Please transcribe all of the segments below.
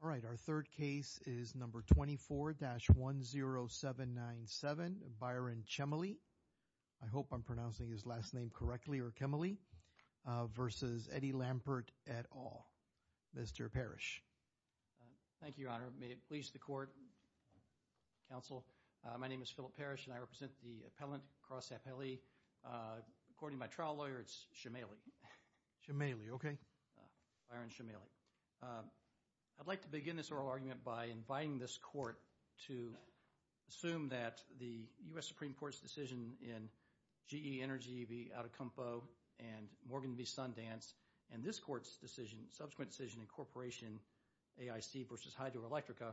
All right. Our third case is number 24-10797, Byron Chemaly. I hope I'm pronouncing his last name correctly, or Chemaly, versus Eddie Lampert et al. Mr. Parrish. Thank you, Your Honor. May it please the Court, Counsel, my name is Philip Parrish and I represent the Appellant Cross Appellee. According to my trial lawyer, it's Chemaly. Chemaly, okay. Byron Chemaly. I'd like to begin this oral argument by inviting this Court to assume that the U.S. Supreme Court's decision in GE Energy v. Atacompo and Morgan v. Sundance and this Court's decision, subsequent decision in Corporation AIC v. Hydroelectrica,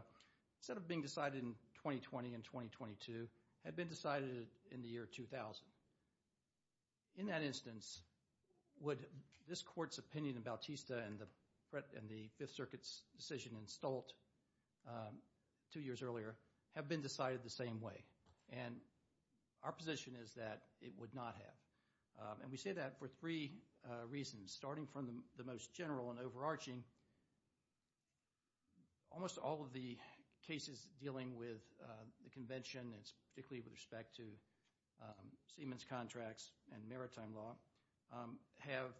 instead of being decided in 2020 and 2022, had been decided in the year 2000. In that instance, would this Court's opinion in Bautista and the Fifth Circuit's decision in Stolt, two years earlier, have been decided the same way? And our position is that it would not have. And we say that for three reasons, starting from the most general and overarching, almost all of the cases dealing with the Convention, particularly with respect to Siemens contracts and maritime law, have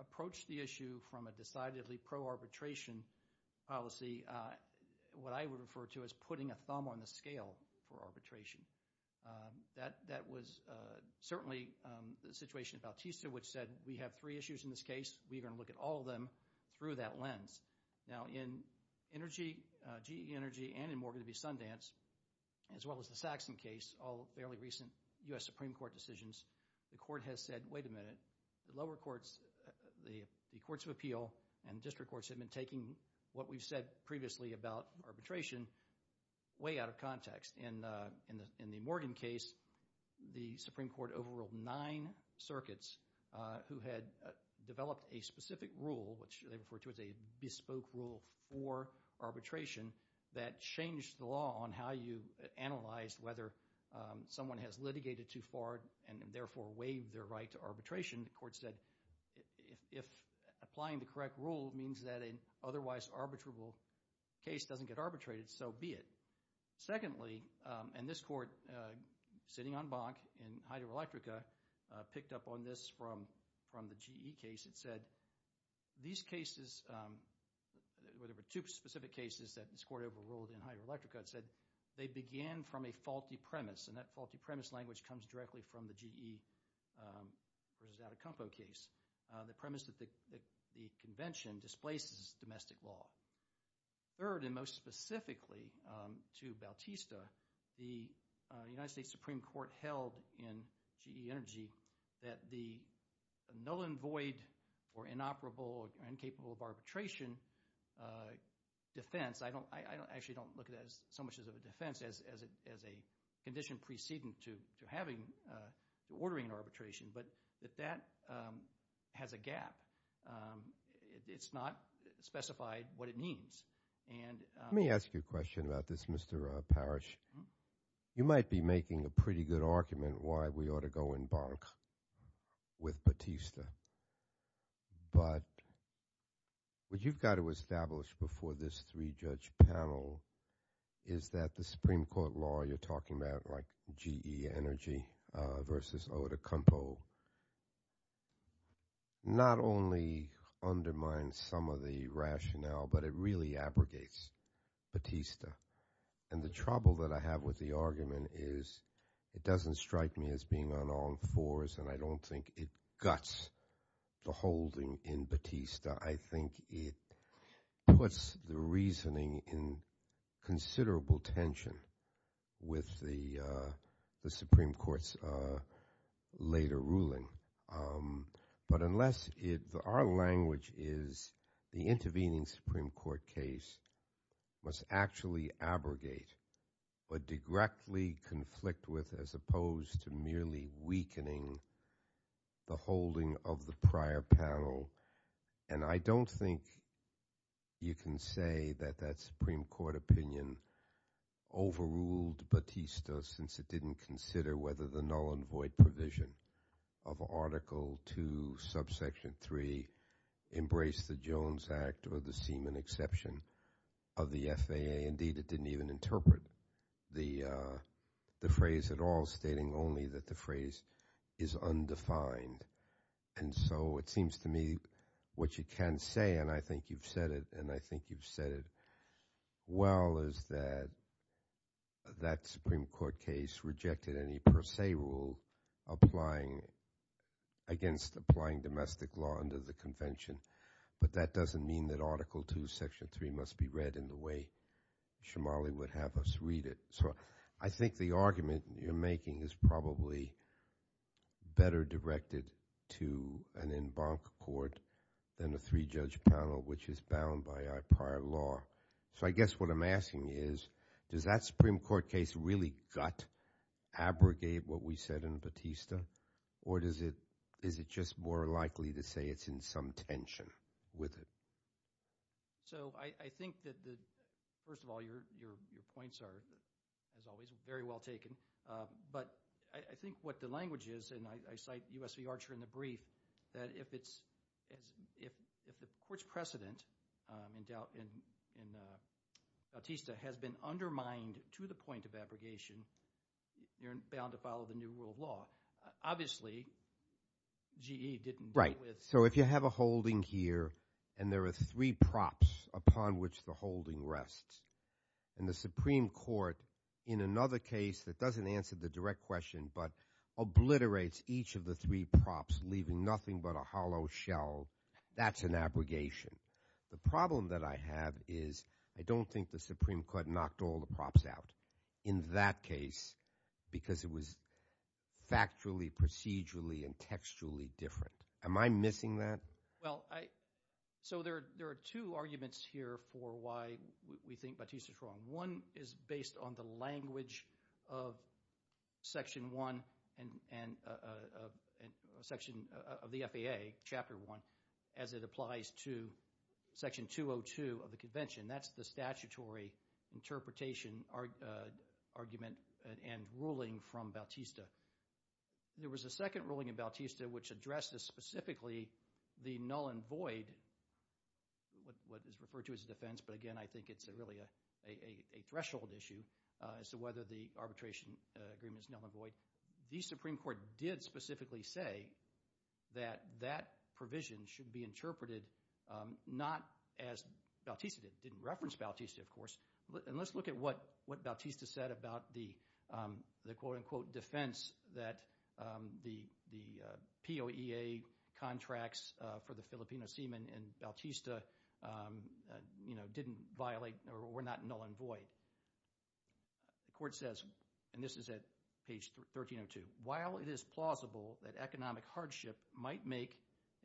approached the issue from a decidedly pro-arbitration policy, what I would refer to as putting a thumb on the scale for arbitration. That was certainly the situation in Bautista, which said we have three issues in this case, we're going to look at all of them through that lens. Now, in GE Energy and in Morgan v. Sundance, as well as the Saxon case, all fairly recent U.S. Supreme Court decisions, the Court has said, wait a minute, the lower courts, the courts of appeal and district courts have been taking what we've said previously about arbitration way out of context. In the Morgan case, the Supreme Court overruled nine circuits who had developed a specific rule, which they referred to as a bespoke rule for arbitration, that changed the law on how you analyze whether someone has litigated too far and therefore waived their right to arbitration. The Court said, if applying the correct rule means that an otherwise arbitrable case doesn't get arbitrated, so be it. Secondly, and this Court, sitting on BAC in Hydroelectrica, picked up on this from the GE case, it said, these cases, there were two specific cases that this Court overruled in Hydroelectrica, it said, they began from a faulty premise, and that faulty premise language comes directly from the GE v. Atacampo case, the premise that the convention displaces domestic law. Third, and most specifically to Bautista, the United States Supreme Court held in GE Energy that the null and void, or inoperable, or incapable of arbitration defense, I actually don't look at it as so much of a defense as a condition preceding to ordering an arbitration, but that that has a gap. It's not specified what it means. Let me ask you a question about this, Mr. Parrish. You might be making a pretty good argument why we ought to go in BAC with Bautista, but what you've got to establish before this three-judge panel is that the Supreme Court law you're talking about, like GE Energy v. Atacampo, not only undermines some of the rationale, but it really abrogates Bautista. And the trouble that I have with the argument is it doesn't strike me as being on all fours and I don't think it guts the holding in Bautista. I think it puts the reasoning in considerable tension with the Supreme Court's later ruling. But unless it, our language is the intervening Supreme Court case must actually abrogate but directly conflict with as opposed to merely weakening the holding of the prior panel. And I don't think you can say that that Supreme Court opinion overruled Bautista since it didn't consider whether the null and void provision of Article 2, Subsection 3 embraced the Jones Act or the semen exception of the FAA. Indeed, it didn't even interpret the phrase at all, stating only that the phrase is undefined. And so it seems to me what you can say, and I think you've said it, and I think you've directed any per se rule against applying domestic law under the convention. But that doesn't mean that Article 2, Section 3 must be read in the way Shomali would have us read it. So I think the argument you're making is probably better directed to an en banc court than a three-judge panel, which is bound by our prior law. So I guess what I'm asking is, does that Supreme Court case really gut, abrogate what we said in Bautista? Or is it just more likely to say it's in some tension with it? So I think that, first of all, your points are, as always, very well taken. But I think what the language is, and I cite U.S. v. Archer in the brief, that if the court's precedent in Bautista has been undermined to the point of abrogation, you're bound to follow the new rule of law. Obviously, GE didn't deal with- So if you have a holding here, and there are three props upon which the holding rests, and the Supreme Court, in another case that doesn't answer the direct question, but obliterates each of the three props, leaving nothing but a hollow shell, that's an abrogation. The problem that I have is I don't think the Supreme Court knocked all the props out in that case because it was factually, procedurally, and textually different. Am I missing that? Well, so there are two arguments here for why we think Bautista's wrong. One is based on the language of Section 1, Section of the FAA, Chapter 1, as it applies to Section 202 of the Convention. That's the statutory interpretation argument and ruling from Bautista. There was a second ruling in Bautista which addressed this specifically, the null and void, what is referred to as a defense, but again, I think it's really a threshold issue as to whether the arbitration agreement is null and void. The Supreme Court did specifically say that that provision should be interpreted not as Bautista did. It didn't reference Bautista, of course. Let's look at what Bautista said about the quote-unquote defense that the POEA contracts for the Filipino seaman in Bautista, you know, didn't violate or were not null and void. The Court says, and this is at page 1302, while it is plausible that economic hardship might make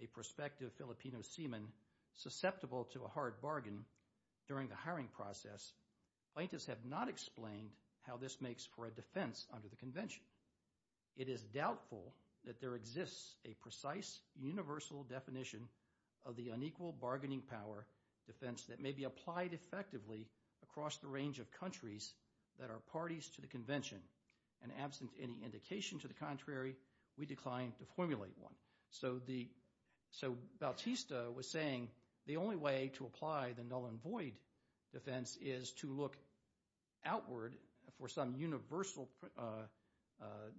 a prospective Filipino seaman susceptible to a hard bargain during the hiring process, plaintiffs have not explained how this makes for a defense under the Convention. It is doubtful that there exists a precise universal definition of the unequal bargaining power defense that may be applied effectively across the range of countries that are parties to the Convention, and absent any indication to the contrary, we decline to formulate one. So Bautista was saying the only way to apply the null and void defense is to look outward for some universal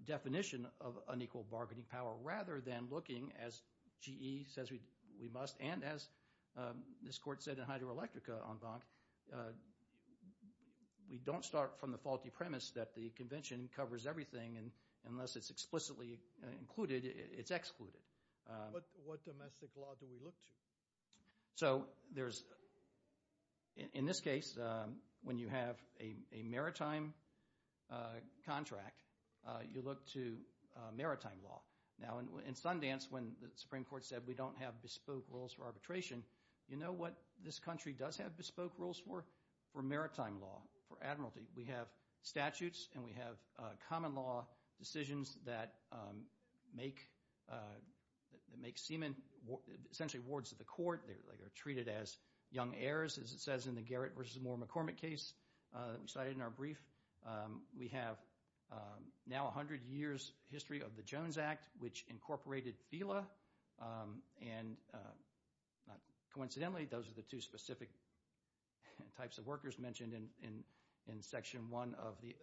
definition of unequal bargaining power rather than looking, as GE says we must, and as this Court said in Hydroelectrica en banc, we don't start from the faulty premise that the Convention covers everything, and unless it's explicitly included, it's excluded. What domestic law do we look to? So there's, in this case, when you have a maritime contract, you look to maritime law. Now in Sundance, when the Supreme Court said we don't have bespoke rules for arbitration, you know what this country does have bespoke rules for? For maritime law, for admiralty. We have statutes and we have common law decisions that make seamen essentially wards of the court, they're treated as young heirs, as it says in the Garrett v. Moore McCormick case that we cited in our brief. We have now a hundred years' history of the Jones Act, which incorporated FILA, and not coincidentally, those are the two specific types of workers mentioned in Section 1 of the—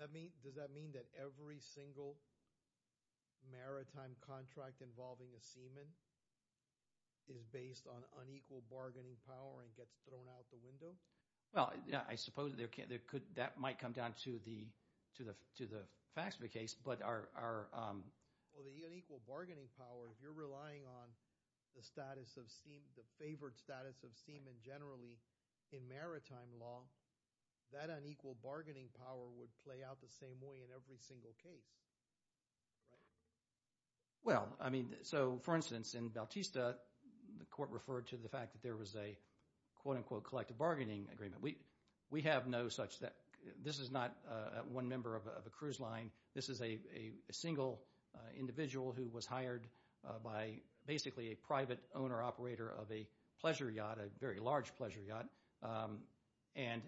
Does that mean that every single maritime contract involving a seaman is based on unequal bargaining power and gets thrown out the window? Well, yeah, I suppose that might come down to the facts of the case, but our— Well, the unequal bargaining power, if you're relying on the status of seamen, the favored status of seamen generally in maritime law, that unequal bargaining power would play out the same way in every single case. Right. Well, I mean, so for instance, in Bautista, the court referred to the fact that there was a, quote-unquote, collective bargaining agreement. We have no such—this is not one member of a cruise line. This is a single individual who was hired by basically a private owner-operator of a pleasure yacht, a very large pleasure yacht. And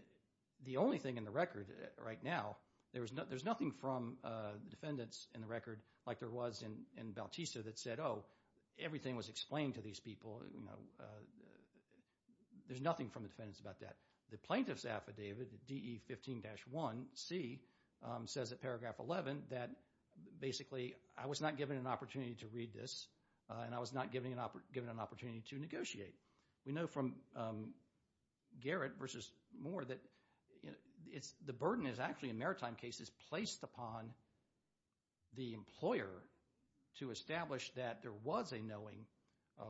the only thing in the record right now, there's nothing from defendants in the record like there was in Bautista that said, oh, everything was explained to these people. There's nothing from the defendants about that. The plaintiff's affidavit, DE 15-1c, says at paragraph 11 that basically I was not given an opportunity to read this, and I was not given an opportunity to negotiate. We know from Garrett versus Moore that the burden is actually in maritime cases placed upon the employer to establish that there was a knowing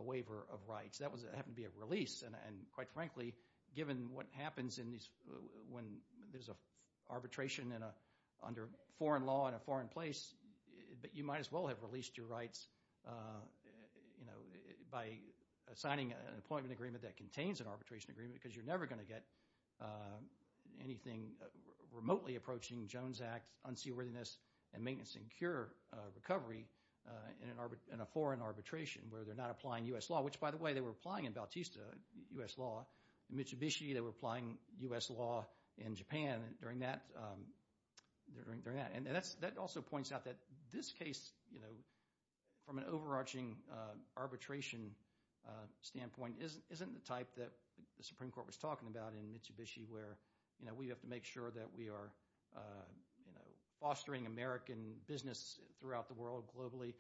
waiver of rights. That happened to be a release, and quite frankly, given what happens when there's an arbitration under foreign law in a foreign place, you might as well have released your rights by signing an appointment agreement that contains an arbitration agreement because you're never going to get anything remotely approaching Jones Act unseaworthiness and maintenance and cure recovery in a foreign arbitration where they're not applying U.S. law, which, by the way, they were applying in Bautista U.S. law. In Mitsubishi, they were applying U.S. law in Japan during that. That also points out that this case, from an overarching arbitration standpoint, isn't the type that the Supreme Court was talking about in Mitsubishi where we have to make sure that we are fostering American business throughout the world globally.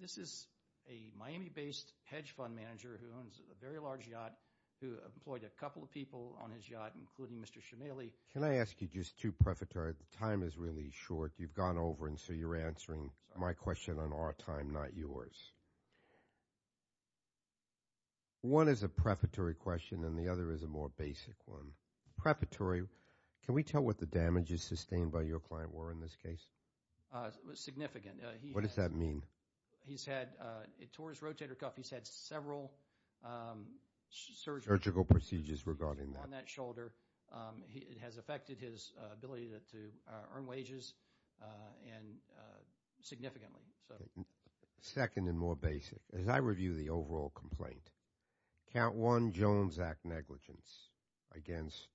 This is a Miami-based hedge fund manager who owns a very large yacht who employed a couple of people on his yacht, including Mr. Shumeli. Can I ask you just two prefatory? The time is really short. You've gone over, and so you're answering my question on our time, not yours. One is a prefatory question, and the other is a more basic one. Prefatory, can we tell what the damages sustained by your client were in this case? Significant. What does that mean? He's had, it tore his rotator cuff. He's had several surgical procedures regarding that shoulder. It has affected his ability to earn wages significantly. Second and more basic. As I review the overall complaint, count one Jones Act negligence against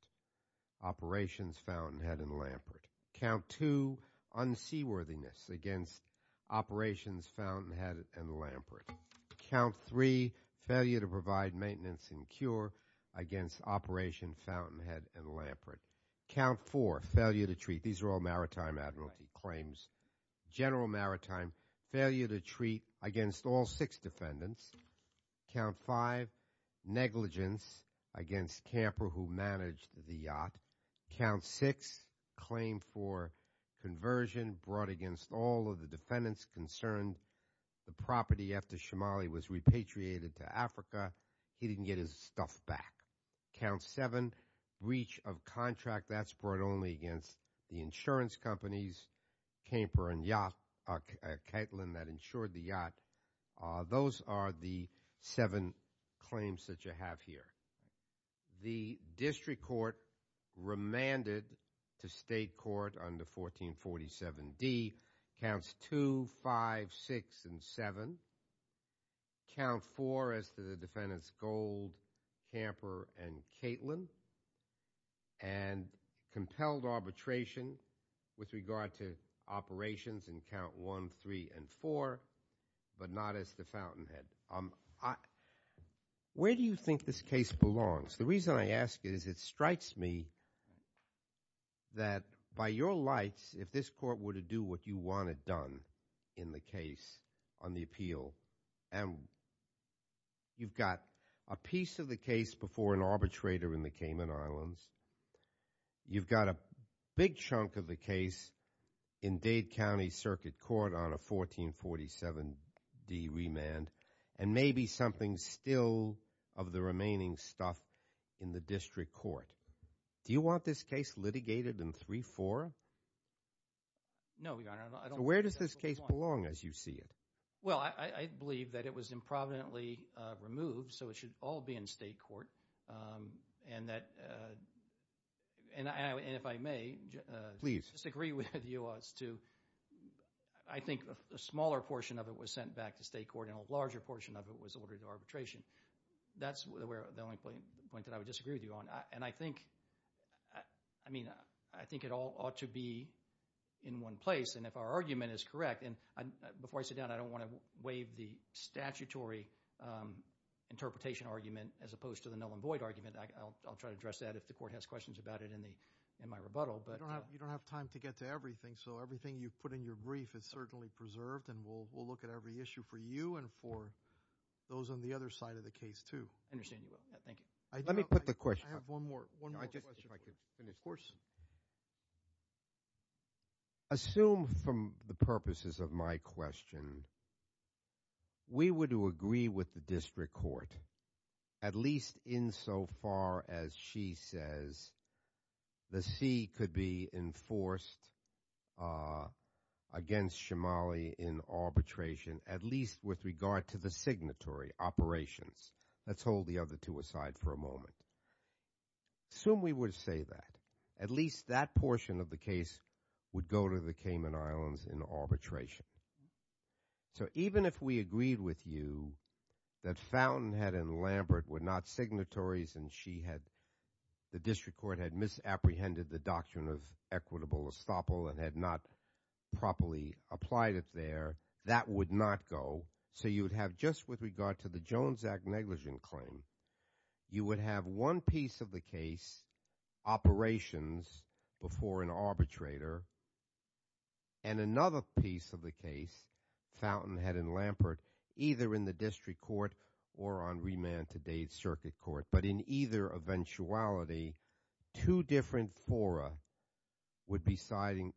operations found in Head and Lampert. Count two, unseaworthiness against operations found in Head and Lampert. Count three, failure to provide maintenance and cure against operations found in Head and Lampert. Count four, failure to treat. These are all maritime admiralty claims. General maritime, failure to treat against all six defendants. Count five, negligence against camper who managed the yacht. Count six, claim for conversion brought against all of the defendants concerned. The property after Shamali was repatriated to Africa, he didn't get his stuff back. Count seven, breach of contract, that's brought only against the insurance companies. Camper and yacht, Kaitlin that insured the yacht. Those are the seven claims that you have here. The district court remanded to state court under 1447D counts two, five, six, and seven. Count four as to the defendants Gold, Camper, and Kaitlin. And compelled arbitration with regard to operations in count one, three, and four, but not as to Fountainhead. Where do you think this case belongs? The reason I ask is it strikes me that by your lights, if this court were to do what you want it done in the case on the appeal, and you've got a piece of the case before an arbitrator in the Cayman Islands, you've got a big chunk of the case in Dade County Circuit Court on a 1447D remand, and maybe something still of the remaining stuff in the district court. Do you want this case litigated in three, four? No, Your Honor. Where does this case belong as you see it? Well, I believe that it was improvidently removed, so it should all be in state court. And if I may disagree with you, I think a smaller portion of it was sent back to state court and a larger portion of it was ordered to arbitration. That's the only point that I would disagree with you on. And I think it all ought to be in one place, and if our argument is correct, and before I sit down, I don't want to waive the statutory interpretation argument as opposed to the null and void argument. I'll try to address that if the court has questions about it in my rebuttal. You don't have time to get to everything, so everything you've put in your brief is certainly preserved, and we'll look at every issue for you and for those on the other side of the case, too. I understand you will. Thank you. Let me put the question. I have one more. One more question. If I could finish. Assume, for the purposes of my question, we were to agree with the district court, at least insofar as she says the C could be enforced against Shomali in arbitration, at least with regard to the signatory operations. Let's hold the other two aside for a moment. Assume we would say that. At least that portion of the case would go to the Cayman Islands in arbitration. So even if we agreed with you that Fountainhead and Lambert were not signatories and she had the district court had misapprehended the doctrine of equitable estoppel and had not properly applied it there, that would not go. So you'd have just with regard to the Jones Act negligent claim, you would have one piece of the case operations before an arbitrator and another piece of the case, Fountainhead and Lambert, either in the district court or on remand to Dade Circuit Court. But in either eventuality, two different fora would be deciding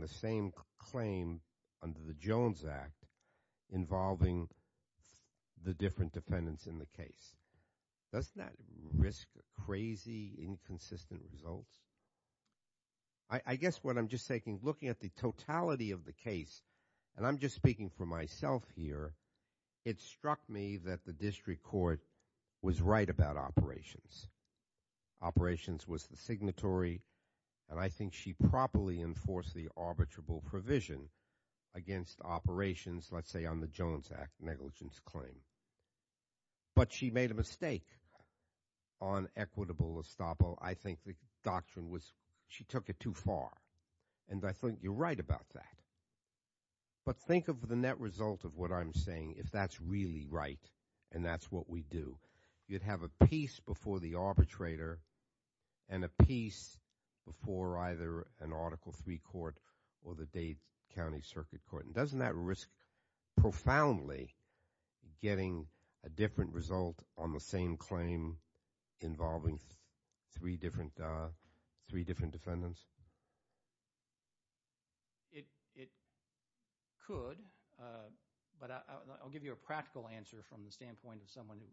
the same claim under the Jones Act involving the different defendants in the case. Doesn't that risk crazy, inconsistent results? I guess what I'm just thinking, looking at the totality of the case, and I'm just speaking for myself here, it struck me that the district court was right about operations. Operations was the signatory and I think she properly enforced the arbitrable provision against operations, let's say, on the Jones Act negligence claim. But she made a mistake on equitable estoppel. I think the doctrine was she took it too far and I think you're right about that. But think of the net result of what I'm saying if that's really right and that's what we do. You'd have a piece before the arbitrator and a piece before either an Article III court or the Dade County Circuit Court. Doesn't that risk profoundly getting a different result on the same claim involving three different defendants? It could, but I'll give you a practical answer from the standpoint of someone who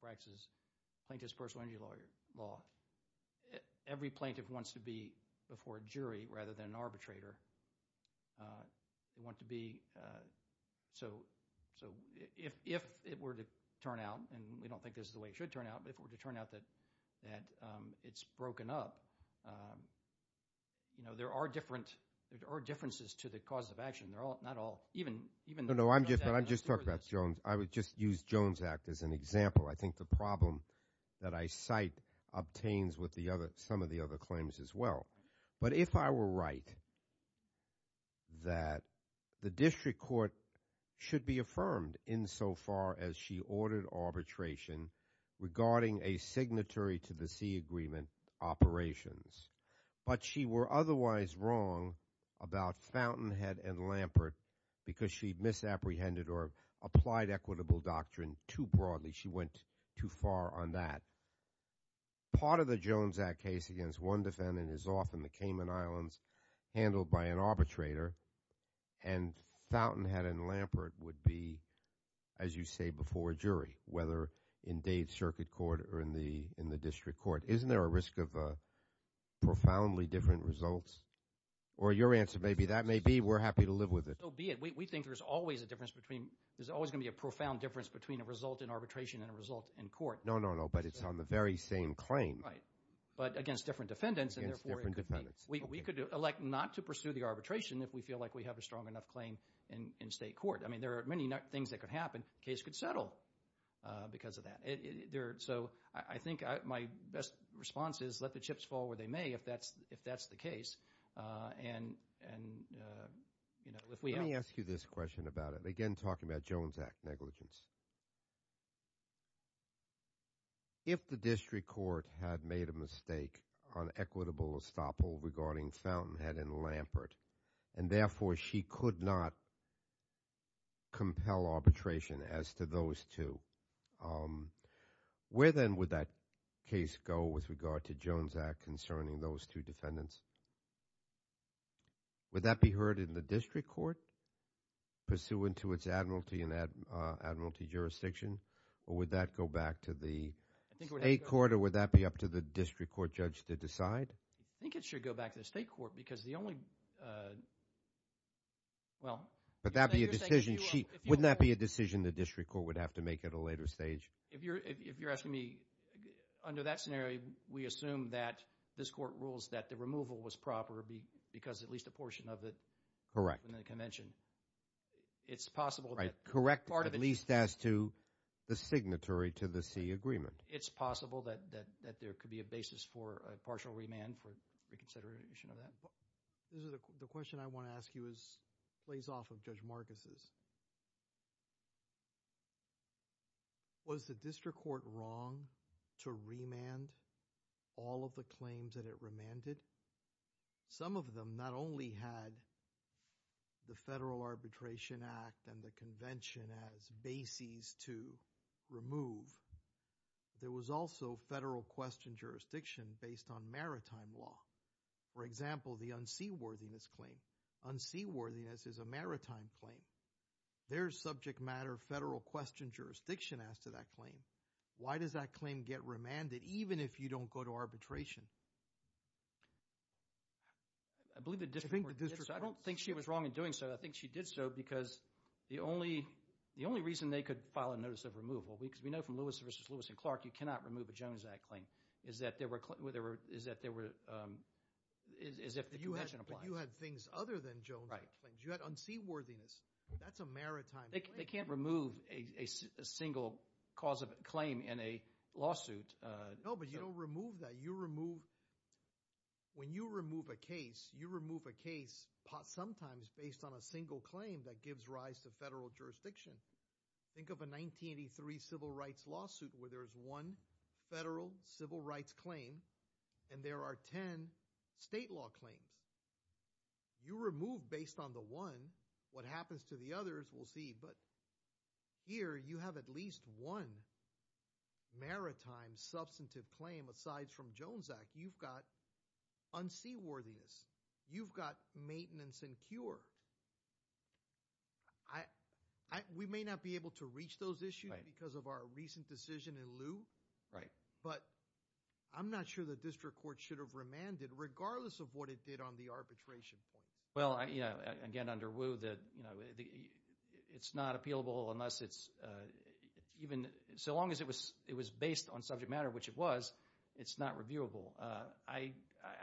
practices plaintiff's personal injury law. Every plaintiff wants to be before a jury rather than an arbitrator. They want to be, so if it were to turn out, and we don't think this is the way it should turn out, but if it were to turn out that it's broken up, you know, there are differences to the cause of action. They're all, not all, even the Jones Act. No, no, I'm just talking about Jones. I would just use Jones Act as an example. I think the problem that I cite obtains with some of the other claims as well. But if I were right, that the district court should be affirmed insofar as she ordered arbitration regarding a signatory to the C Agreement operations, but she were otherwise wrong about Fountainhead and Lampert because she misapprehended or applied equitable doctrine too broadly. She went too far on that. Part of the Jones Act case against one defendant is often the Cayman Islands handled by an arbitrator and Fountainhead and Lampert would be, as you say, before a jury, whether in Dade Circuit Court or in the district court. Isn't there a risk of profoundly different results? Or your answer may be, that may be. We're happy to live with it. So be it. We think there's always a difference between, there's always going to be a profound difference between a result in arbitration and a result in court. No, no, no. But it's on the very same claim. Right. But against different defendants. Against different defendants. We could elect not to pursue the arbitration if we feel like we have a strong enough claim in state court. I mean, there are many things that could happen, the case could settle because of that. So I think my best response is, let the chips fall where they may if that's the case. And you know, if we have... about it. Again, talking about Jones Act negligence. If the district court had made a mistake on equitable estoppel regarding Fountainhead and Lampert, and therefore she could not compel arbitration as to those two, where then would that case go with regard to Jones Act concerning those two defendants? Would that be heard in the district court, pursuant to its admiralty and admiralty jurisdiction, or would that go back to the state court, or would that be up to the district court judge to decide? I think it should go back to the state court because the only, well... But that'd be a decision, wouldn't that be a decision the district court would have to make at a later stage? If you're asking me, under that scenario, we assume that this court rules that the removal was proper because at least a portion of it was in the convention. It's possible... Right, correct, at least as to the signatory to the C agreement. It's possible that there could be a basis for a partial remand for reconsideration of that. The question I want to ask you is, plays off of Judge Marcus's. Was the district court wrong to remand all of the claims that it remanded? Some of them not only had the Federal Arbitration Act and the convention as bases to remove, there was also federal question jurisdiction based on maritime law. For example, the unseaworthiness claim. Unseaworthiness is a maritime claim. There's subject matter federal question jurisdiction as to that claim. Why does that claim get remanded even if you don't go to arbitration? I believe the district court did so. I don't think she was wrong in doing so, I think she did so because the only reason they could file a notice of removal, because we know from Lewis v. Lewis and Clark you cannot remove a Jones Act claim, is that there were, is that there were, is if the convention applies. You had things other than Jones Act claims, you had unseaworthiness, that's a maritime claim. They can't remove a single cause of claim in a lawsuit. No, but you don't remove that, you remove, when you remove a case, you remove a case sometimes based on a single claim that gives rise to federal jurisdiction. Think of a 1983 civil rights lawsuit where there's one federal civil rights claim and there are ten state law claims. You remove based on the one, what happens to the others, we'll see, but here you have at least one maritime substantive claim aside from Jones Act. You've got unseaworthiness, you've got maintenance and cure. We may not be able to reach those issues because of our recent decision in lieu, but I'm not sure the district court should have remanded regardless of what it did on the arbitration point. Well, you know, again, under Woo, that, you know, it's not appealable unless it's even, so long as it was, it was based on subject matter, which it was, it's not reviewable. I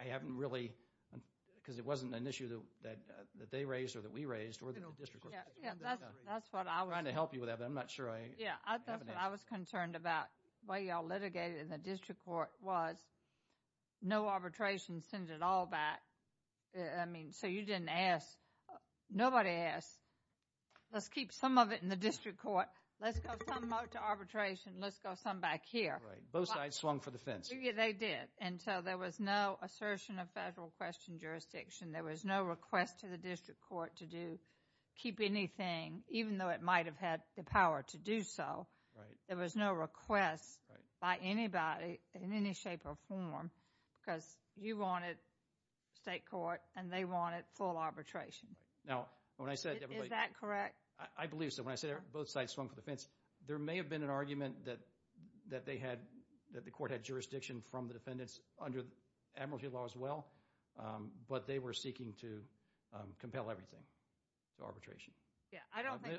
haven't really, because it wasn't an issue that, that they raised or that we raised or the district court. Yeah, that's what I was trying to help you with that, but I'm not sure I have an answer. Yeah, that's what I was concerned about while you all litigated in the district court was no arbitration sends it all back, I mean, so you didn't ask, nobody asked, let's keep some of it in the district court, let's go some out to arbitration, let's go some back here. Right. Both sides swung for the fence. Yeah, they did, and so there was no assertion of federal question jurisdiction. There was no request to the district court to do, keep anything, even though it might have had the power to do so, there was no request by anybody in any shape or form because you wanted state court and they wanted full arbitration. Now when I said, is that correct? I believe so. When I said both sides swung for the fence, there may have been an argument that, that they had, that the court had jurisdiction from the defendants under admiralty law as well, but they were seeking to compel everything to arbitration. I don't think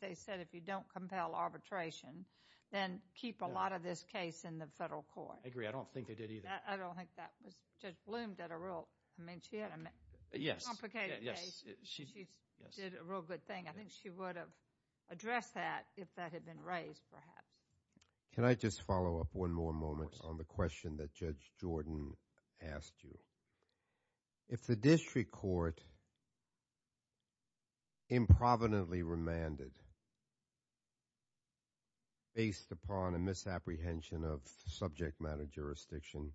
they said if you don't compel arbitration, then keep a lot of this case in the federal court. I agree. I don't think they did either. I don't think that was, Judge Blum did a real, I mean, she had a complicated case. She did a real good thing. I think she would have addressed that if that had been raised perhaps. Can I just follow up one more moment on the question that Judge Jordan asked you? If the district court improvidently remanded based upon a misapprehension of subject matter jurisdiction,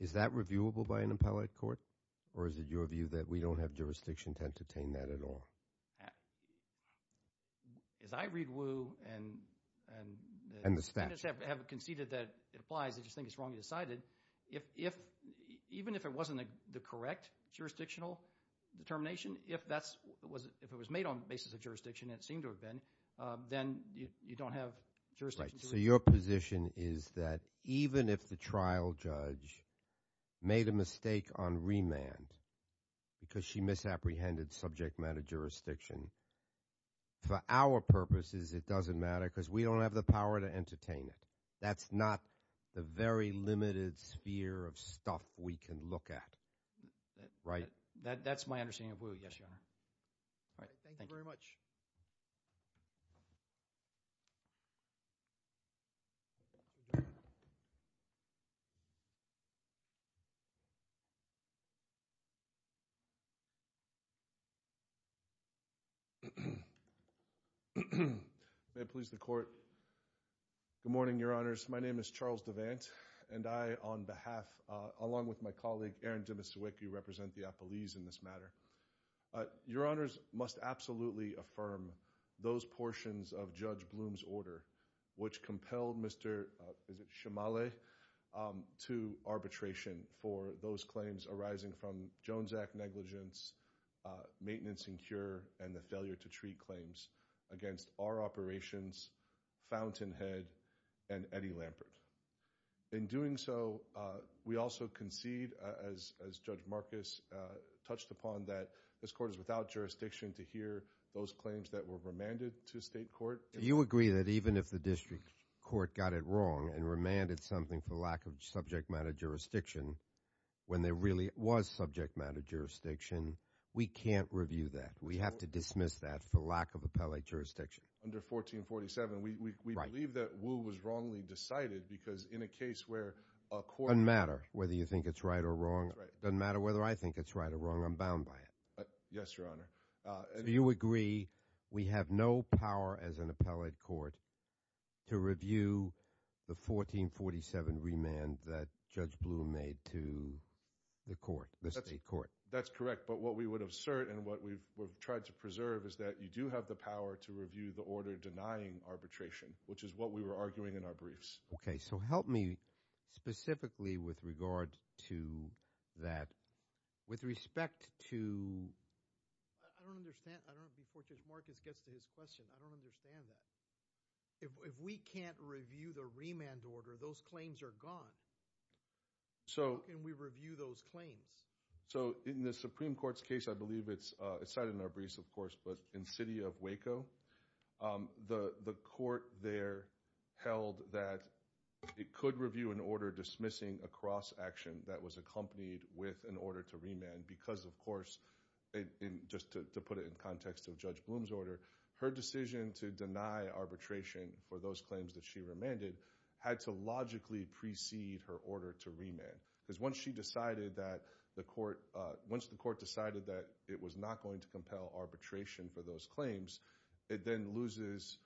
is that reviewable by an appellate court or is it your view that we don't have jurisdiction to entertain that at all? As I read Wu and the standards have conceded that it applies, I just think it's wrongly decided, even if it wasn't the correct jurisdictional determination, if it was made on the basis of jurisdiction, it seemed to have been, then you don't have jurisdiction. So your position is that even if the trial judge made a mistake on remand because she misapprehended subject matter jurisdiction, for our purposes it doesn't matter because we don't have the power to entertain it. That's not the very limited sphere of stuff we can look at, right? That's my understanding of Wu, yes, Your Honor. All right, thank you very much. May I please the court? Good morning, Your Honor. Good morning, Your Honors. My name is Charles DeVant, and I, on behalf, along with my colleague, Aaron Demasiewicz, who represent the appellees in this matter, Your Honors, must absolutely affirm those portions of Judge Bloom's order, which compelled Mr. Shumale to arbitration for those claims arising from Jones Act negligence, maintenance and cure, and the failure to treat claims against our operations, Fountainhead, and Eddie Lampert. In doing so, we also concede, as Judge Marcus touched upon, that this court is without jurisdiction to hear those claims that were remanded to state court. You agree that even if the district court got it wrong and remanded something for lack of subject matter jurisdiction, when there really was subject matter jurisdiction, we can't review that. We have to dismiss that for lack of appellate jurisdiction. Under 1447, we believe that Wu was wrongly decided because in a case where a court— Doesn't matter whether you think it's right or wrong. Doesn't matter whether I think it's right or wrong. I'm bound by it. Yes, Your Honor. Do you agree we have no power as an appellate court to review the 1447 remand that Judge Bloom made to the court, the state court? That's correct, but what we would assert and what we've tried to preserve is that you do have the power to review the order denying arbitration, which is what we were arguing in our briefs. Okay, so help me specifically with regard to that. With respect to— I don't understand. I don't know. Before Judge Marcus gets to his question, I don't understand that. If we can't review the remand order, those claims are gone. So— How can we review those claims? So in the Supreme Court's case, I believe it's cited in our briefs, of course, but in City of Waco, the court there held that it could review an order dismissing a cross-action that was accompanied with an order to remand because, of course, just to put it in context of Judge Bloom's order, her decision to deny arbitration for those claims that she remanded had to logically precede her order to remand because once she decided that the court—once the court decided that it was not going to compel arbitration for those claims, it then loses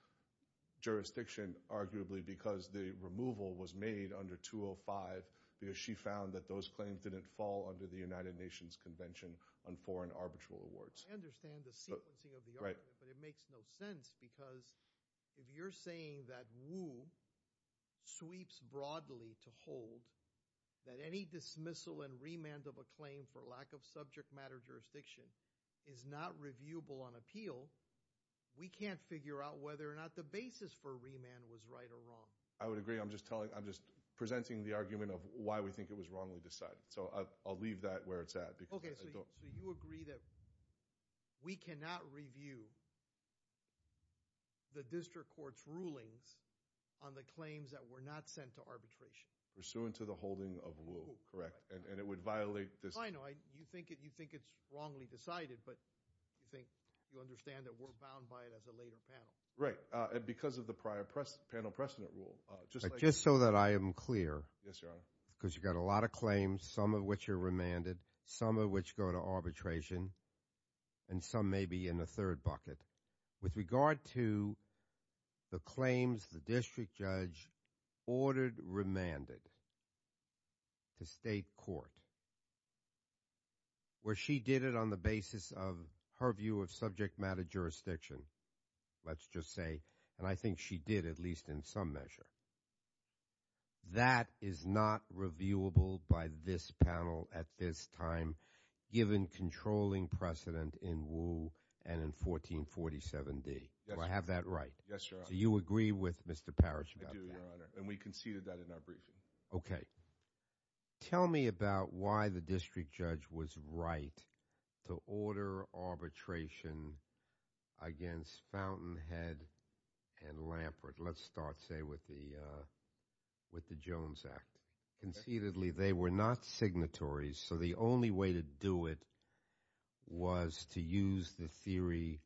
jurisdiction, arguably, because the removal was made under 205 because she found that those claims didn't fall under the United Nations Convention on Foreign Arbitral Rewards. I understand the sequencing of the argument, but it makes no sense because if you're saying that Wu sweeps broadly to hold that any dismissal and remand of a claim for lack of subject matter jurisdiction is not reviewable on appeal, we can't figure out whether or not the basis for remand was right or wrong. I would agree. I'm just telling—I'm just presenting the argument of why we think it was wrongly decided. So I'll leave that where it's at because— So you agree that we cannot review the district court's rulings on the claims that were not sent to arbitration? Pursuant to the holding of Wu, correct, and it would violate this— I know. You think it's wrongly decided, but you think—you understand that we're bound by it as a later panel. Right. And because of the prior panel precedent rule, just like— Just so that I am clear— Yes, Your Honor. Because you've got a lot of claims, some of which are remanded, some of which go to arbitration, and some may be in the third bucket. With regard to the claims the district judge ordered remanded to state court where she did it on the basis of her view of subject matter jurisdiction, let's just say, and I think she did at least in some measure. That is not reviewable by this panel at this time given controlling precedent in Wu and in 1447D. Do I have that right? Yes, Your Honor. So you agree with Mr. Parrish about that? I do, Your Honor, and we conceded that in our briefing. Okay. Tell me about why the district judge was right to order arbitration against Fountainhead and Lampert. Let's start, say, with the Jones Act. Concededly, they were not signatories, so the only way to do it was to use the theory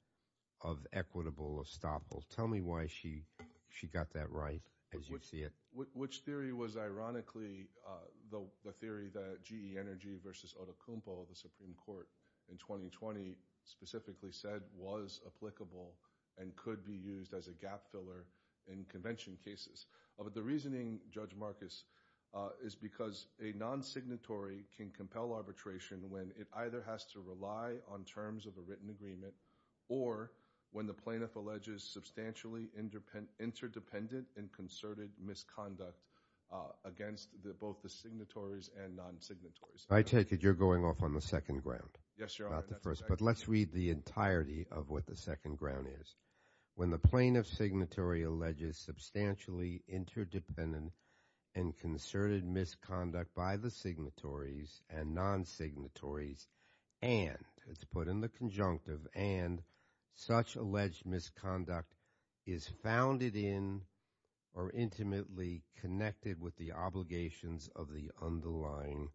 of equitable estoppel. Tell me why she got that right as you see it. Which theory was ironically the theory that GE Energy versus Otokumpo, the Supreme Court in 2020, specifically said was applicable and could be used as a gap filler in convention cases. The reasoning, Judge Marcus, is because a nonsignatory can compel arbitration when it either has to rely on terms of a written agreement or when the plaintiff alleges substantially interdependent and concerted misconduct against both the signatories and nonsignatories. I take it you're going off on the second ground. Yes, Your Honor. I'm sorry about the first, but let's read the entirety of what the second ground is. When the plaintiff's signatory alleges substantially interdependent and concerted misconduct by the signatories and nonsignatories and, it's put in the conjunctive, and such alleged misconduct is founded in or intimately connected with the obligations of the underlying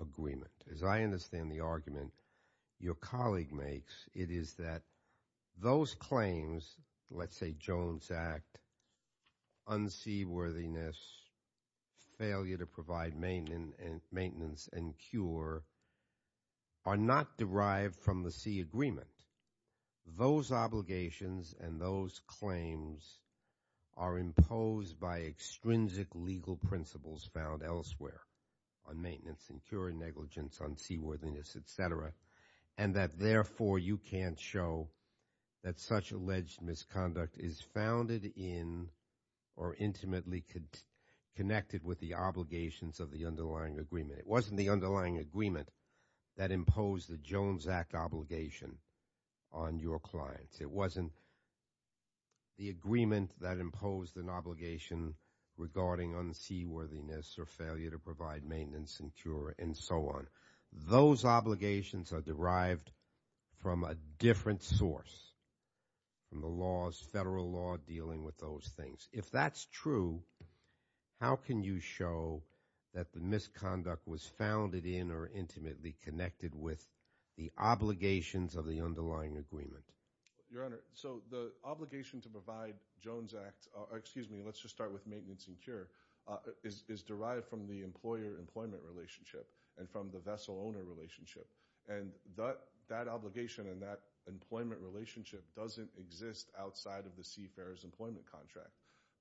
agreement. As I understand the argument your colleague makes, it is that those claims, let's say Jones Act, unseaworthiness, failure to provide maintenance and cure, are not derived from the C agreement. Those obligations and those claims are imposed by extrinsic legal principles found elsewhere on maintenance and cure, negligence, unseaworthiness, et cetera, and that therefore you can't show that such alleged misconduct is founded in or intimately connected with the obligations of the underlying agreement. It wasn't the underlying agreement that imposed the Jones Act obligation on your clients. It wasn't the agreement that imposed an obligation regarding unseaworthiness or failure to provide maintenance and cure and so on. Those obligations are derived from a different source, from the laws, federal law dealing with those things. If that's true, how can you show that the misconduct was founded in or intimately connected with the obligations of the underlying agreement? Your Honor, so the obligation to provide Jones Act, excuse me, let's just start with maintenance and cure, is derived from the employer-employment relationship and from the vessel-owner relationship, and that obligation and that employment relationship doesn't exist outside of the CFARES employment contract.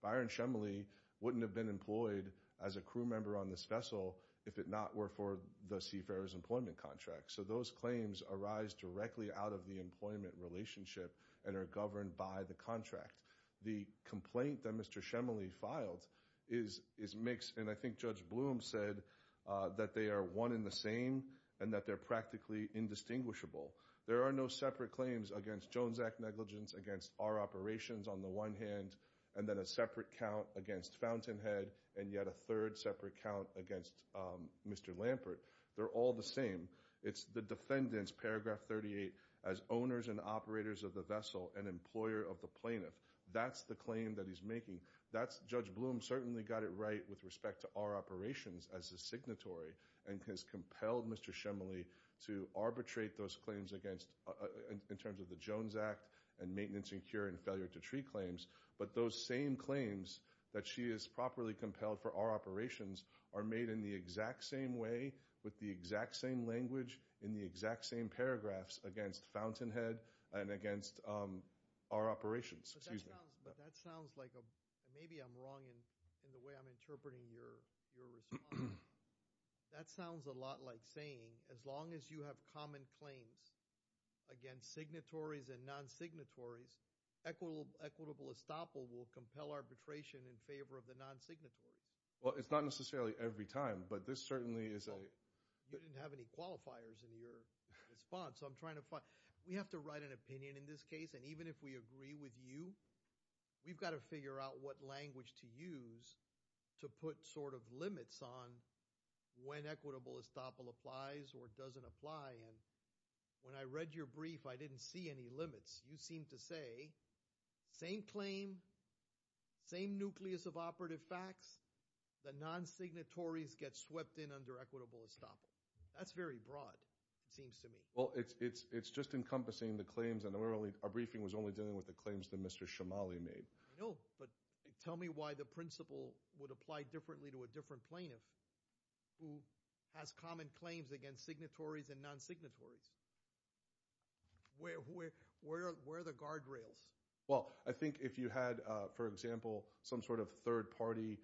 Byron Shemley wouldn't have been employed as a crew member on this vessel if it not were for the CFARES employment contract. So those claims arise directly out of the employment relationship and are governed by the contract. The complaint that Mr. Shemley filed is mixed, and I think Judge Bloom said that they are one and the same and that they're practically indistinguishable. There are no separate claims against Jones Act negligence, against our operations on the one hand, and then a separate count against Fountainhead, and yet a third separate count against Mr. Lampert. They're all the same. It's the defendants, paragraph 38, as owners and operators of the vessel and employer of the plaintiff. That's the claim that he's making. Judge Bloom certainly got it right with respect to our operations as a signatory and has compelled Mr. Shemley to arbitrate those claims in terms of the Jones Act and maintenance and cure and failure to treat claims. But those same claims that she has properly compelled for our operations are made in the exact same way, with the exact same language, in the exact same paragraphs against Fountainhead and against our operations. Excuse me. But that sounds like a – maybe I'm wrong in the way I'm interpreting your response. That sounds a lot like saying as long as you have common claims against signatories and non-signatories, equitable estoppel will compel arbitration in favor of the non-signatories. Well, it's not necessarily every time, but this certainly is a – You didn't have any qualifiers in your response. I'm trying to find – we have to write an opinion in this case, and even if we agree with you, we've got to figure out what language to use to put sort of limits on when equitable estoppel applies or doesn't apply. And when I read your brief, I didn't see any limits. You seemed to say same claim, same nucleus of operative facts, the non-signatories get swept in under equitable estoppel. That's very broad, it seems to me. Well, it's just encompassing the claims, and our briefing was only dealing with the claims that Mr. Shomali made. I know, but tell me why the principle would apply differently to a different plaintiff who has common claims against signatories and non-signatories. Where are the guardrails? Well, I think if you had, for example, some sort of third party,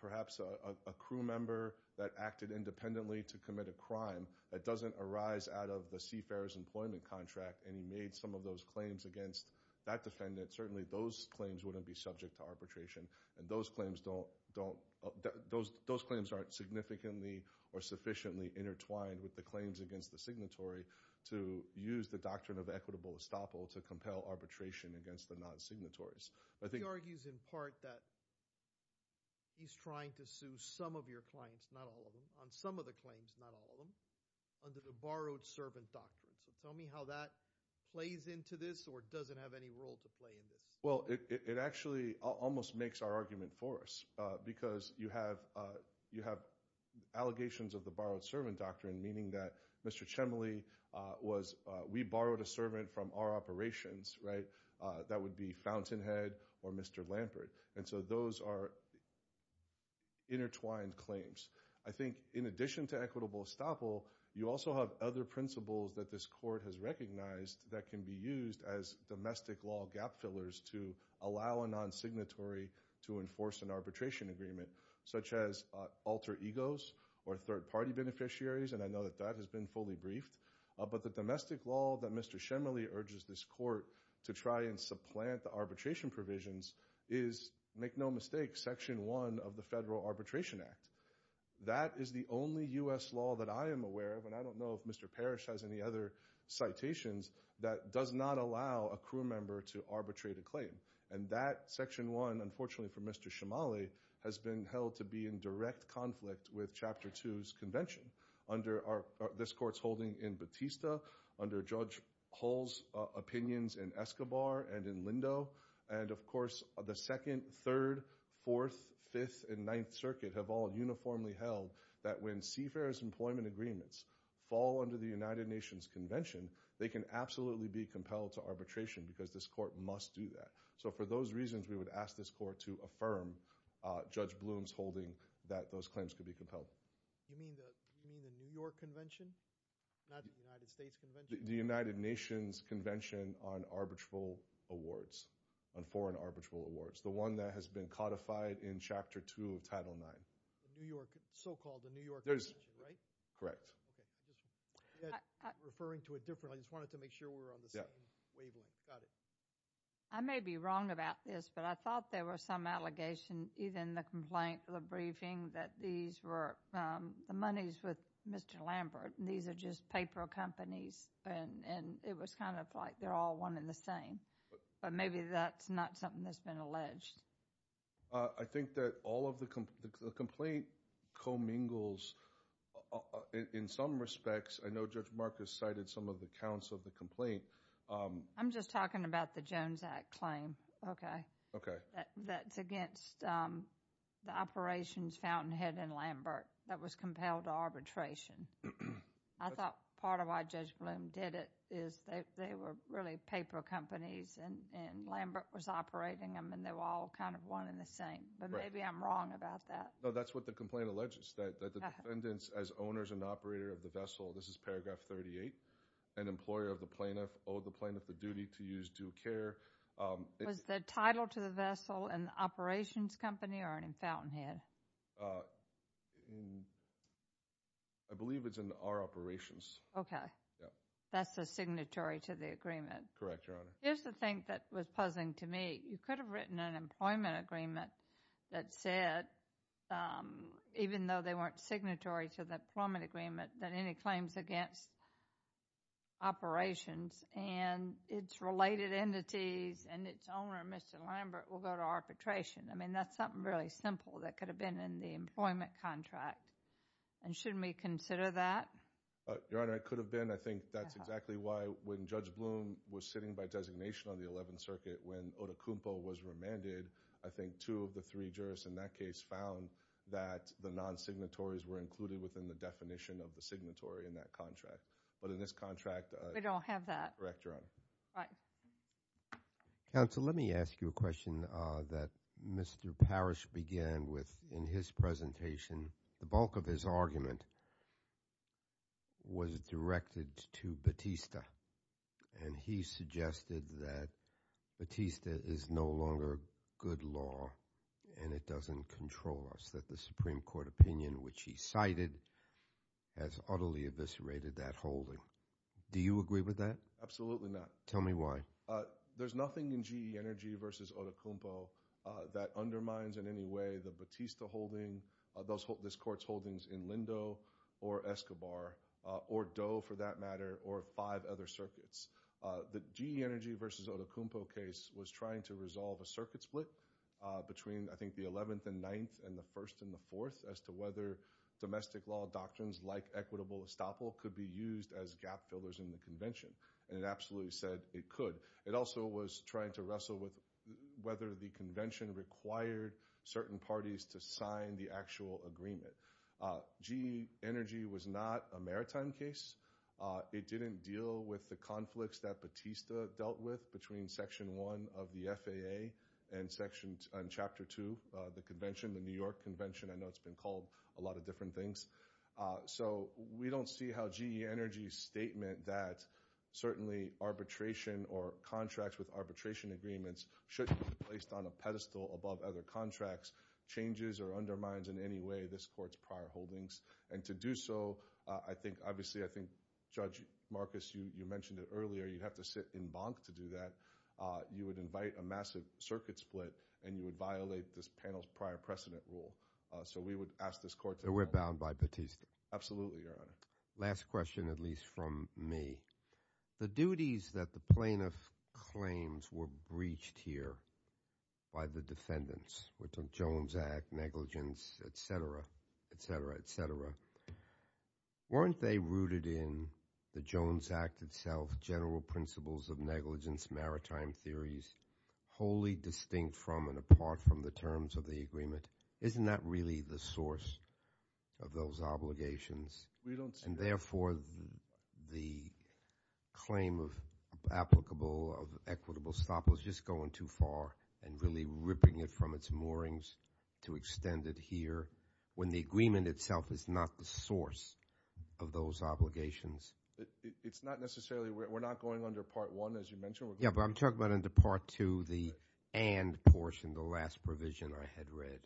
perhaps a crew member that acted independently to commit a crime that doesn't arise out of the CFER's employment contract, and he made some of those claims against that defendant, certainly those claims wouldn't be subject to arbitration, and those claims aren't significantly or sufficiently intertwined with the claims against the signatory to use the doctrine of equitable estoppel to compel arbitration against the non-signatories. He argues in part that he's trying to sue some of your clients, not all of them, on some of the claims, not all of them, under the borrowed servant doctrine. So tell me how that plays into this or doesn't have any role to play in this. Well, it actually almost makes our argument for us because you have allegations of the borrowed servant doctrine, meaning that Mr. Shomali was – we borrowed a servant from our operations, right? That would be Fountainhead or Mr. Lampert. And so those are intertwined claims. I think in addition to equitable estoppel, you also have other principles that this court has recognized that can be used as domestic law gap fillers to allow a non-signatory to enforce an arbitration agreement, such as alter egos or third party beneficiaries, and I know that that has been fully briefed. But the domestic law that Mr. Shomali urges this court to try and supplant the arbitration provisions is, make no mistake, Section 1 of the Federal Arbitration Act. That is the only U.S. law that I am aware of, and I don't know if Mr. Parrish has any other citations, that does not allow a crew member to arbitrate a claim. And that Section 1, unfortunately for Mr. Shomali, has been held to be in direct conflict with Chapter 2's convention under this court's holding in Batista, under Judge Hull's opinions in Escobar and in Lindo, and of course the 2nd, 3rd, 4th, 5th, and 9th Circuit have all uniformly held that when CFER's employment agreements fall under the United Nations Convention, they can absolutely be compelled to arbitration because this court must do that. So for those reasons, we would ask this court to affirm Judge Bloom's holding that those claims could be compelled. Do you mean the New York Convention, not the United States Convention? The United Nations Convention on Arbitral Awards, on Foreign Arbitral Awards, the one that has been codified in Chapter 2 of Title IX. The New York, so-called the New York Convention, right? Correct. Okay. Referring to a different, I just wanted to make sure we were on the same wavelength. Yeah. Got it. I may be wrong about this, but I thought there were some allegations, in even the complaint, the briefing, that these were the monies with Mr. Lambert. These are just paper companies, and it was kind of like they're all one and the same. But maybe that's not something that's been alleged. I think that all of the complaint co-mingles in some respects. I know Judge Marcus cited some of the counts of the complaint. I'm just talking about the Jones Act claim. Okay. Okay. That's against the operations fountainhead in Lambert that was compelled to arbitration. I thought part of why Judge Bloom did it is they were really paper companies, and Lambert was operating them, and they were all kind of one and the same. Right. But maybe I'm wrong about that. No, that's what the complaint alleges, that the defendants, as owners and operator of the vessel, this is Paragraph 38, an employer of the plaintiff owed the plaintiff a duty to use due care. Was the title to the vessel in the operations company or in the fountainhead? I believe it's in our operations. Okay. That's the signatory to the agreement. Correct, Your Honor. Here's the thing that was puzzling to me. You could have written an employment agreement that said, even though they weren't signatory to the employment agreement, that any claims against operations and its related entities and its owner, Mr. Lambert, will go to arbitration. I mean, that's something really simple that could have been in the employment contract. And shouldn't we consider that? Your Honor, it could have been. I think that's exactly why when Judge Bloom was sitting by designation on the Eleventh Circuit, when Odukumpo was remanded, I think two of the three jurists in that case found that the non-signatories were included within the definition of the signatory in that contract. But in this contract— We don't have that. Correct, Your Honor. All right. Counsel, let me ask you a question that Mr. Parrish began with in his presentation. The bulk of his argument was directed to Batista, and he suggested that Batista is no longer good law and it doesn't control us, that the Supreme Court opinion, which he cited, has utterly eviscerated that holding. Do you agree with that? Absolutely not. Tell me why. There's nothing in GE Energy v. Odukumpo that undermines in any way the Batista holding, this Court's holdings in Lindo or Escobar or Doe, for that matter, or five other circuits. The GE Energy v. Odukumpo case was trying to resolve a circuit split between, I think, the Eleventh and Ninth and the First and the Fourth as to whether domestic law doctrines like equitable estoppel could be used as gap fillers in the convention, and it absolutely said it could. It also was trying to wrestle with whether the convention required certain parties to sign the actual agreement. GE Energy was not a maritime case. It didn't deal with the conflicts that Batista dealt with between Section 1 of the FAA and Chapter 2, the convention, the New York convention. I know it's been called a lot of different things. So we don't see how GE Energy's statement that certainly arbitration or contracts with arbitration agreements shouldn't be placed on a pedestal above other contracts changes or undermines in any way this Court's prior holdings. And to do so, I think, obviously, I think, Judge Marcus, you mentioned it earlier, you'd have to sit in banque to do that. You would invite a massive circuit split, and you would violate this panel's prior precedent rule. So we would ask this Court to— So we're bound by Batista? Absolutely, Your Honor. Last question, at least from me. The duties that the plaintiff claims were breached here by the defendants, which are Jones Act, negligence, et cetera, et cetera, et cetera, weren't they rooted in the Jones Act itself, general principles of negligence, maritime theories, wholly distinct from and apart from the terms of the agreement? Isn't that really the source of those obligations? We don't see— And therefore, the claim of applicable, of equitable stop was just going too far and really ripping it from its moorings to extend it here when the agreement itself is not the source of those obligations? It's not necessarily—we're not going under Part I, as you mentioned. Yeah, but I'm talking about under Part II, the and portion, the last provision I had read.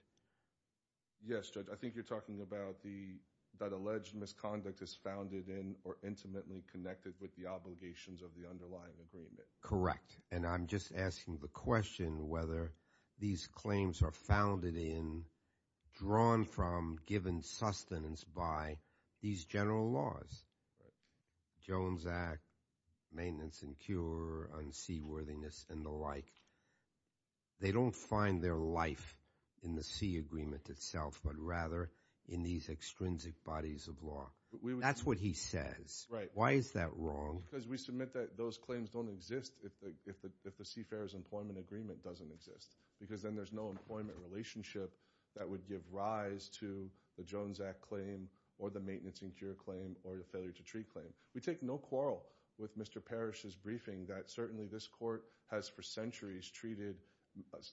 Yes, Judge. I think you're talking about that alleged misconduct is founded in or intimately connected with the obligations of the underlying agreement. Correct. And I'm just asking the question whether these claims are founded in, drawn from, given sustenance by these general laws, Jones Act, maintenance and cure, unseaworthiness, and the like. They don't find their life in the Sea Agreement itself, but rather in these extrinsic bodies of law. That's what he says. Why is that wrong? Because we submit that those claims don't exist if the Seafarer's Employment Agreement doesn't exist because then there's no employment relationship that would give rise to the Jones Act claim or the maintenance and cure claim or the failure-to-treat claim. We take no quarrel with Mr. Parrish's briefing that certainly this court has for centuries treated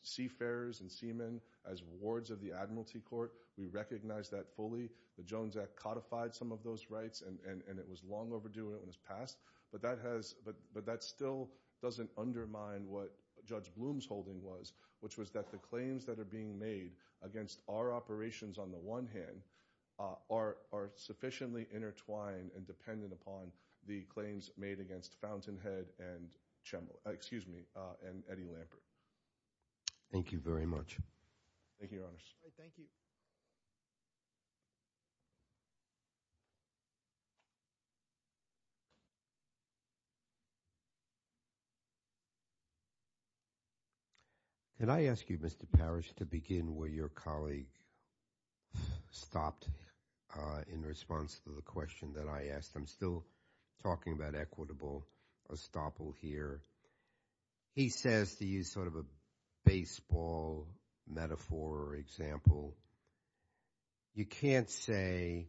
seafarers and seamen as wards of the Admiralty Court. We recognize that fully. The Jones Act codified some of those rights, and it was long overdue when it was passed. But that still doesn't undermine what Judge Bloom's holding was, which was that the claims that are being made against our operations on the one hand are sufficiently intertwined and dependent upon the claims made against Fountainhead and Eddie Lampert. Thank you very much. Thank you, Your Honors. Thank you. Can I ask you, Mr. Parrish, to begin where your colleague stopped in response to the question that I asked? I'm still talking about equitable estoppel here. He says, to use sort of a baseball metaphor or example, you can't say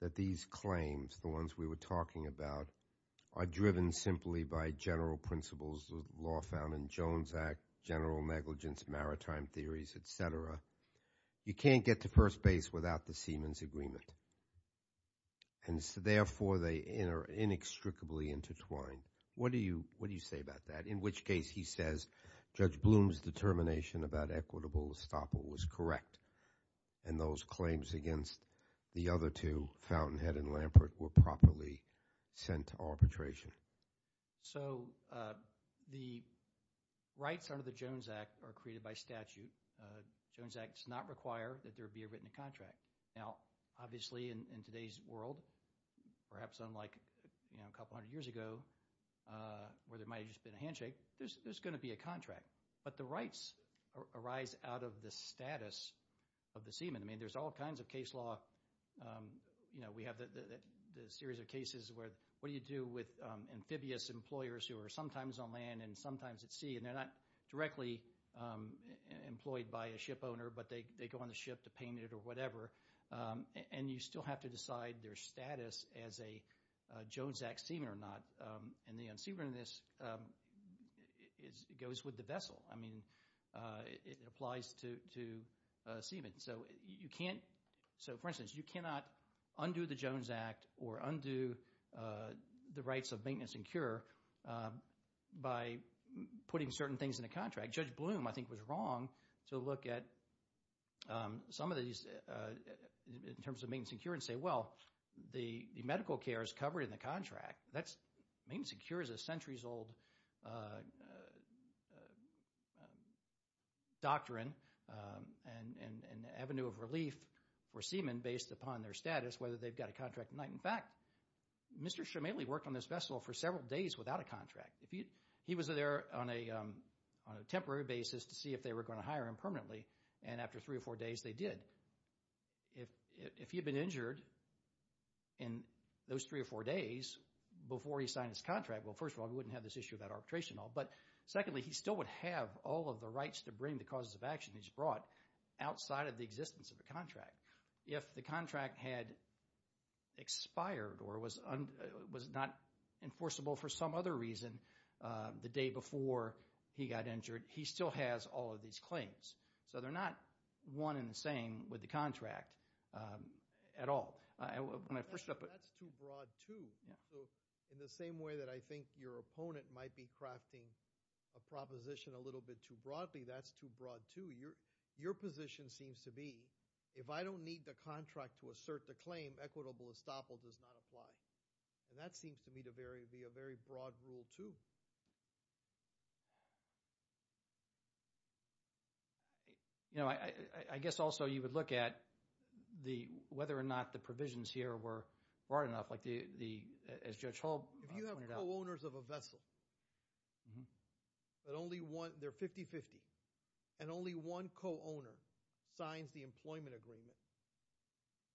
that these claims, the ones we were talking about, are driven simply by general principles of the law found in the Jones Act, general negligence, maritime theories, et cetera. You can't get to first base without the seamen's agreement, and so therefore they are inextricably intertwined. What do you say about that? In which case he says Judge Bloom's determination about equitable estoppel was correct, and those claims against the other two, Fountainhead and Lampert, were properly sent to arbitration. So the rights under the Jones Act are created by statute. The Jones Act does not require that there be a written contract. Now, obviously in today's world, perhaps unlike a couple hundred years ago, where there might have just been a handshake, there's going to be a contract. But the rights arise out of the status of the seamen. I mean there's all kinds of case law. We have the series of cases where what do you do with amphibious employers who are sometimes on land and sometimes at sea, and they're not directly employed by a ship owner, but they go on the ship to paint it or whatever, and you still have to decide their status as a Jones Act seamen or not. And the unseamerness goes with the vessel. I mean it applies to seamen. So for instance, you cannot undo the Jones Act or undo the rights of maintenance and cure by putting certain things in a contract. Judge Bloom, I think, was wrong to look at some of these in terms of maintenance and cure and say, well, the medical care is covered in the contract. Maintenance and cure is a centuries-old doctrine and avenue of relief for seamen based upon their status, whether they've got a contract or not. In fact, Mr. Shumaley worked on this vessel for several days without a contract. He was there on a temporary basis to see if they were going to hire him permanently, and after three or four days they did. If he had been injured in those three or four days before he signed his contract, well, first of all, he wouldn't have this issue about arbitration at all. But secondly, he still would have all of the rights to bring the causes of action he's brought outside of the existence of the contract. If the contract had expired or was not enforceable for some other reason the day before he got injured, he still has all of these claims. So they're not one and the same with the contract at all. That's too broad, too. In the same way that I think your opponent might be crafting a proposition a little bit too broadly, that's too broad, too. Your position seems to be if I don't need the contract to assert the claim, equitable estoppel does not apply. And that seems to me to be a very broad rule, too. I guess also you would look at whether or not the provisions here were broad enough, as Judge Hull pointed out. If you have co-owners of a vessel, they're 50-50, and only one co-owner signs the employment agreement,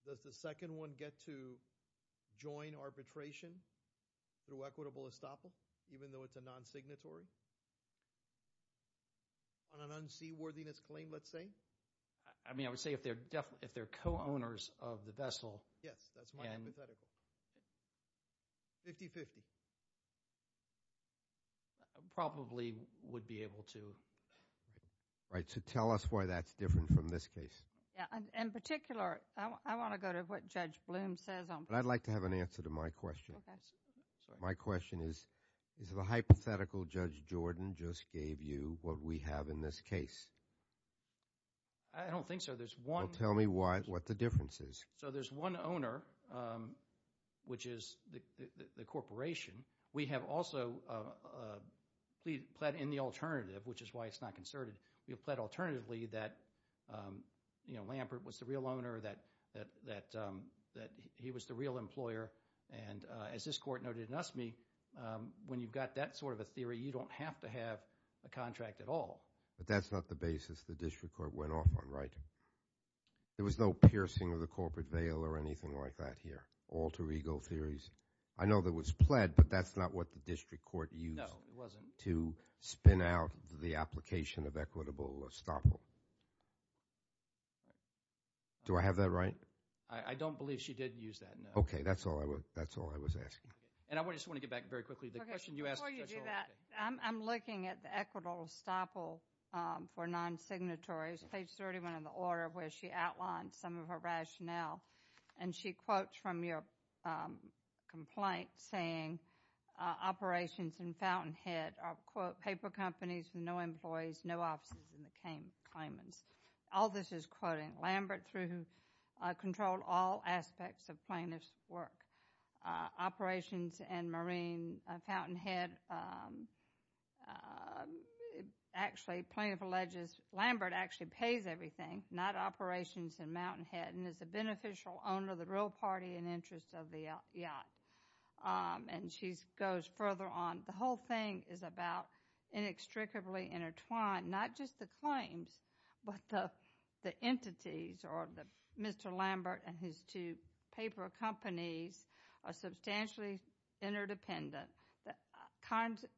does the second one get to join arbitration through equitable estoppel even though it's a non-signatory? On an unseaworthiness claim, let's say? I mean, I would say if they're co-owners of the vessel. Yes, that's my hypothetical. 50-50? Probably would be able to. Right. So tell us why that's different from this case. In particular, I want to go to what Judge Bloom says. I'd like to have an answer to my question. My question is, is the hypothetical Judge Jordan just gave you what we have in this case? I don't think so. Tell me what the difference is. So there's one owner, which is the corporation. We have also pled in the alternative, which is why it's not concerted. We have pled alternatively that Lampert was the real owner, that he was the real employer, and as this Court noted in Usme, when you've got that sort of a theory, you don't have to have a contract at all. But that's not the basis the district court went off on, right? There was no piercing of the corporate veil or anything like that here, alter ego theories. I know there was pled, but that's not what the district court used to spin out the application of equitable estoppel. Do I have that right? I don't believe she did use that, no. Okay, that's all I was asking. And I just want to get back very quickly. Before you do that, I'm looking at the equitable estoppel for non-signatories, page 31 of the order where she outlines some of her rationale, and she quotes from your complaint saying operations in Fountainhead are, quote, paper companies with no employees, no offices in the claimants. All this is quoting Lambert, who controlled all aspects of plaintiff's work. Operations in Fountainhead, actually, plaintiff alleges Lambert actually pays everything, not operations in Mountainhead, and is a beneficial owner of the real party and interest of the yacht. And she goes further on. The whole thing is about inextricably intertwined, not just the claims, but the entities or Mr. Lambert and his two paper companies are substantially interdependent.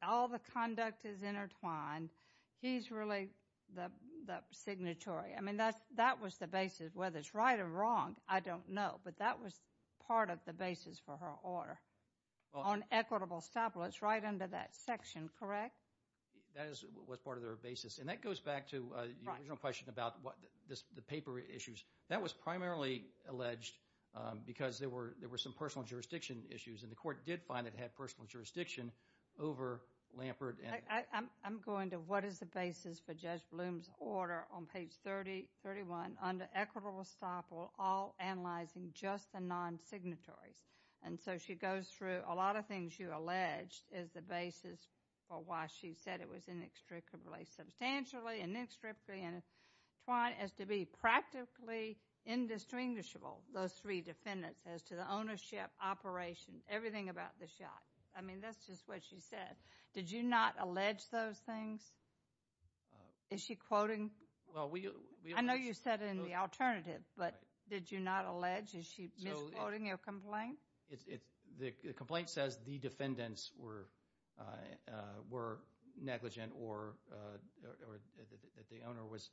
All the conduct is intertwined. He's really the signatory. I mean, that was the basis. Whether it's right or wrong, I don't know. But that was part of the basis for her order on equitable estoppel. It's right under that section, correct? That was part of their basis. And that goes back to your original question about the paper issues. That was primarily alleged because there were some personal jurisdiction issues, and the court did find it had personal jurisdiction over Lambert. I'm going to what is the basis for Judge Bloom's order on page 31, under equitable estoppel, all analyzing just the non-signatories. And so she goes through a lot of things you alleged is the basis for why she said it was inextricably, substantially inextricably intertwined as to be practically indistinguishable, those three defendants, as to the ownership, operation, everything about the yacht. I mean, that's just what she said. Did you not allege those things? Is she quoting? I know you said it in the alternative, but did you not allege? Is she misquoting your complaint? The complaint says the defendants were negligent or that the owner was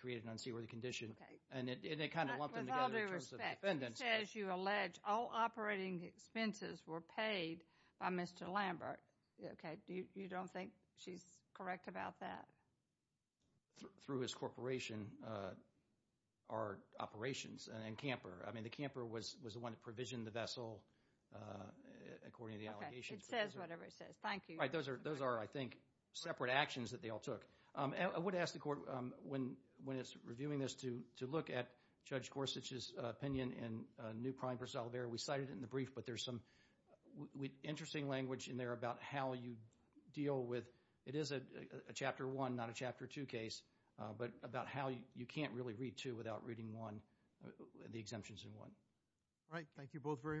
created in an unseaworthy condition, and it kind of lumped them together in terms of defendants. She says you allege all operating expenses were paid by Mr. Lambert. You don't think she's correct about that? Through his corporation are operations and Camper. I mean, the Camper was the one that provisioned the vessel according to the allegations. It says whatever it says. Thank you. Those are, I think, separate actions that they all took. I would ask the Court, when it's reviewing this, to look at Judge Gorsuch's opinion in New Prime v. Olivera. We cited it in the brief, but there's some interesting language in there about how you deal with it is a Chapter 1, not a Chapter 2 case, but about how you can't really read 2 without reading the exemptions in 1. All right. Thank you both very much.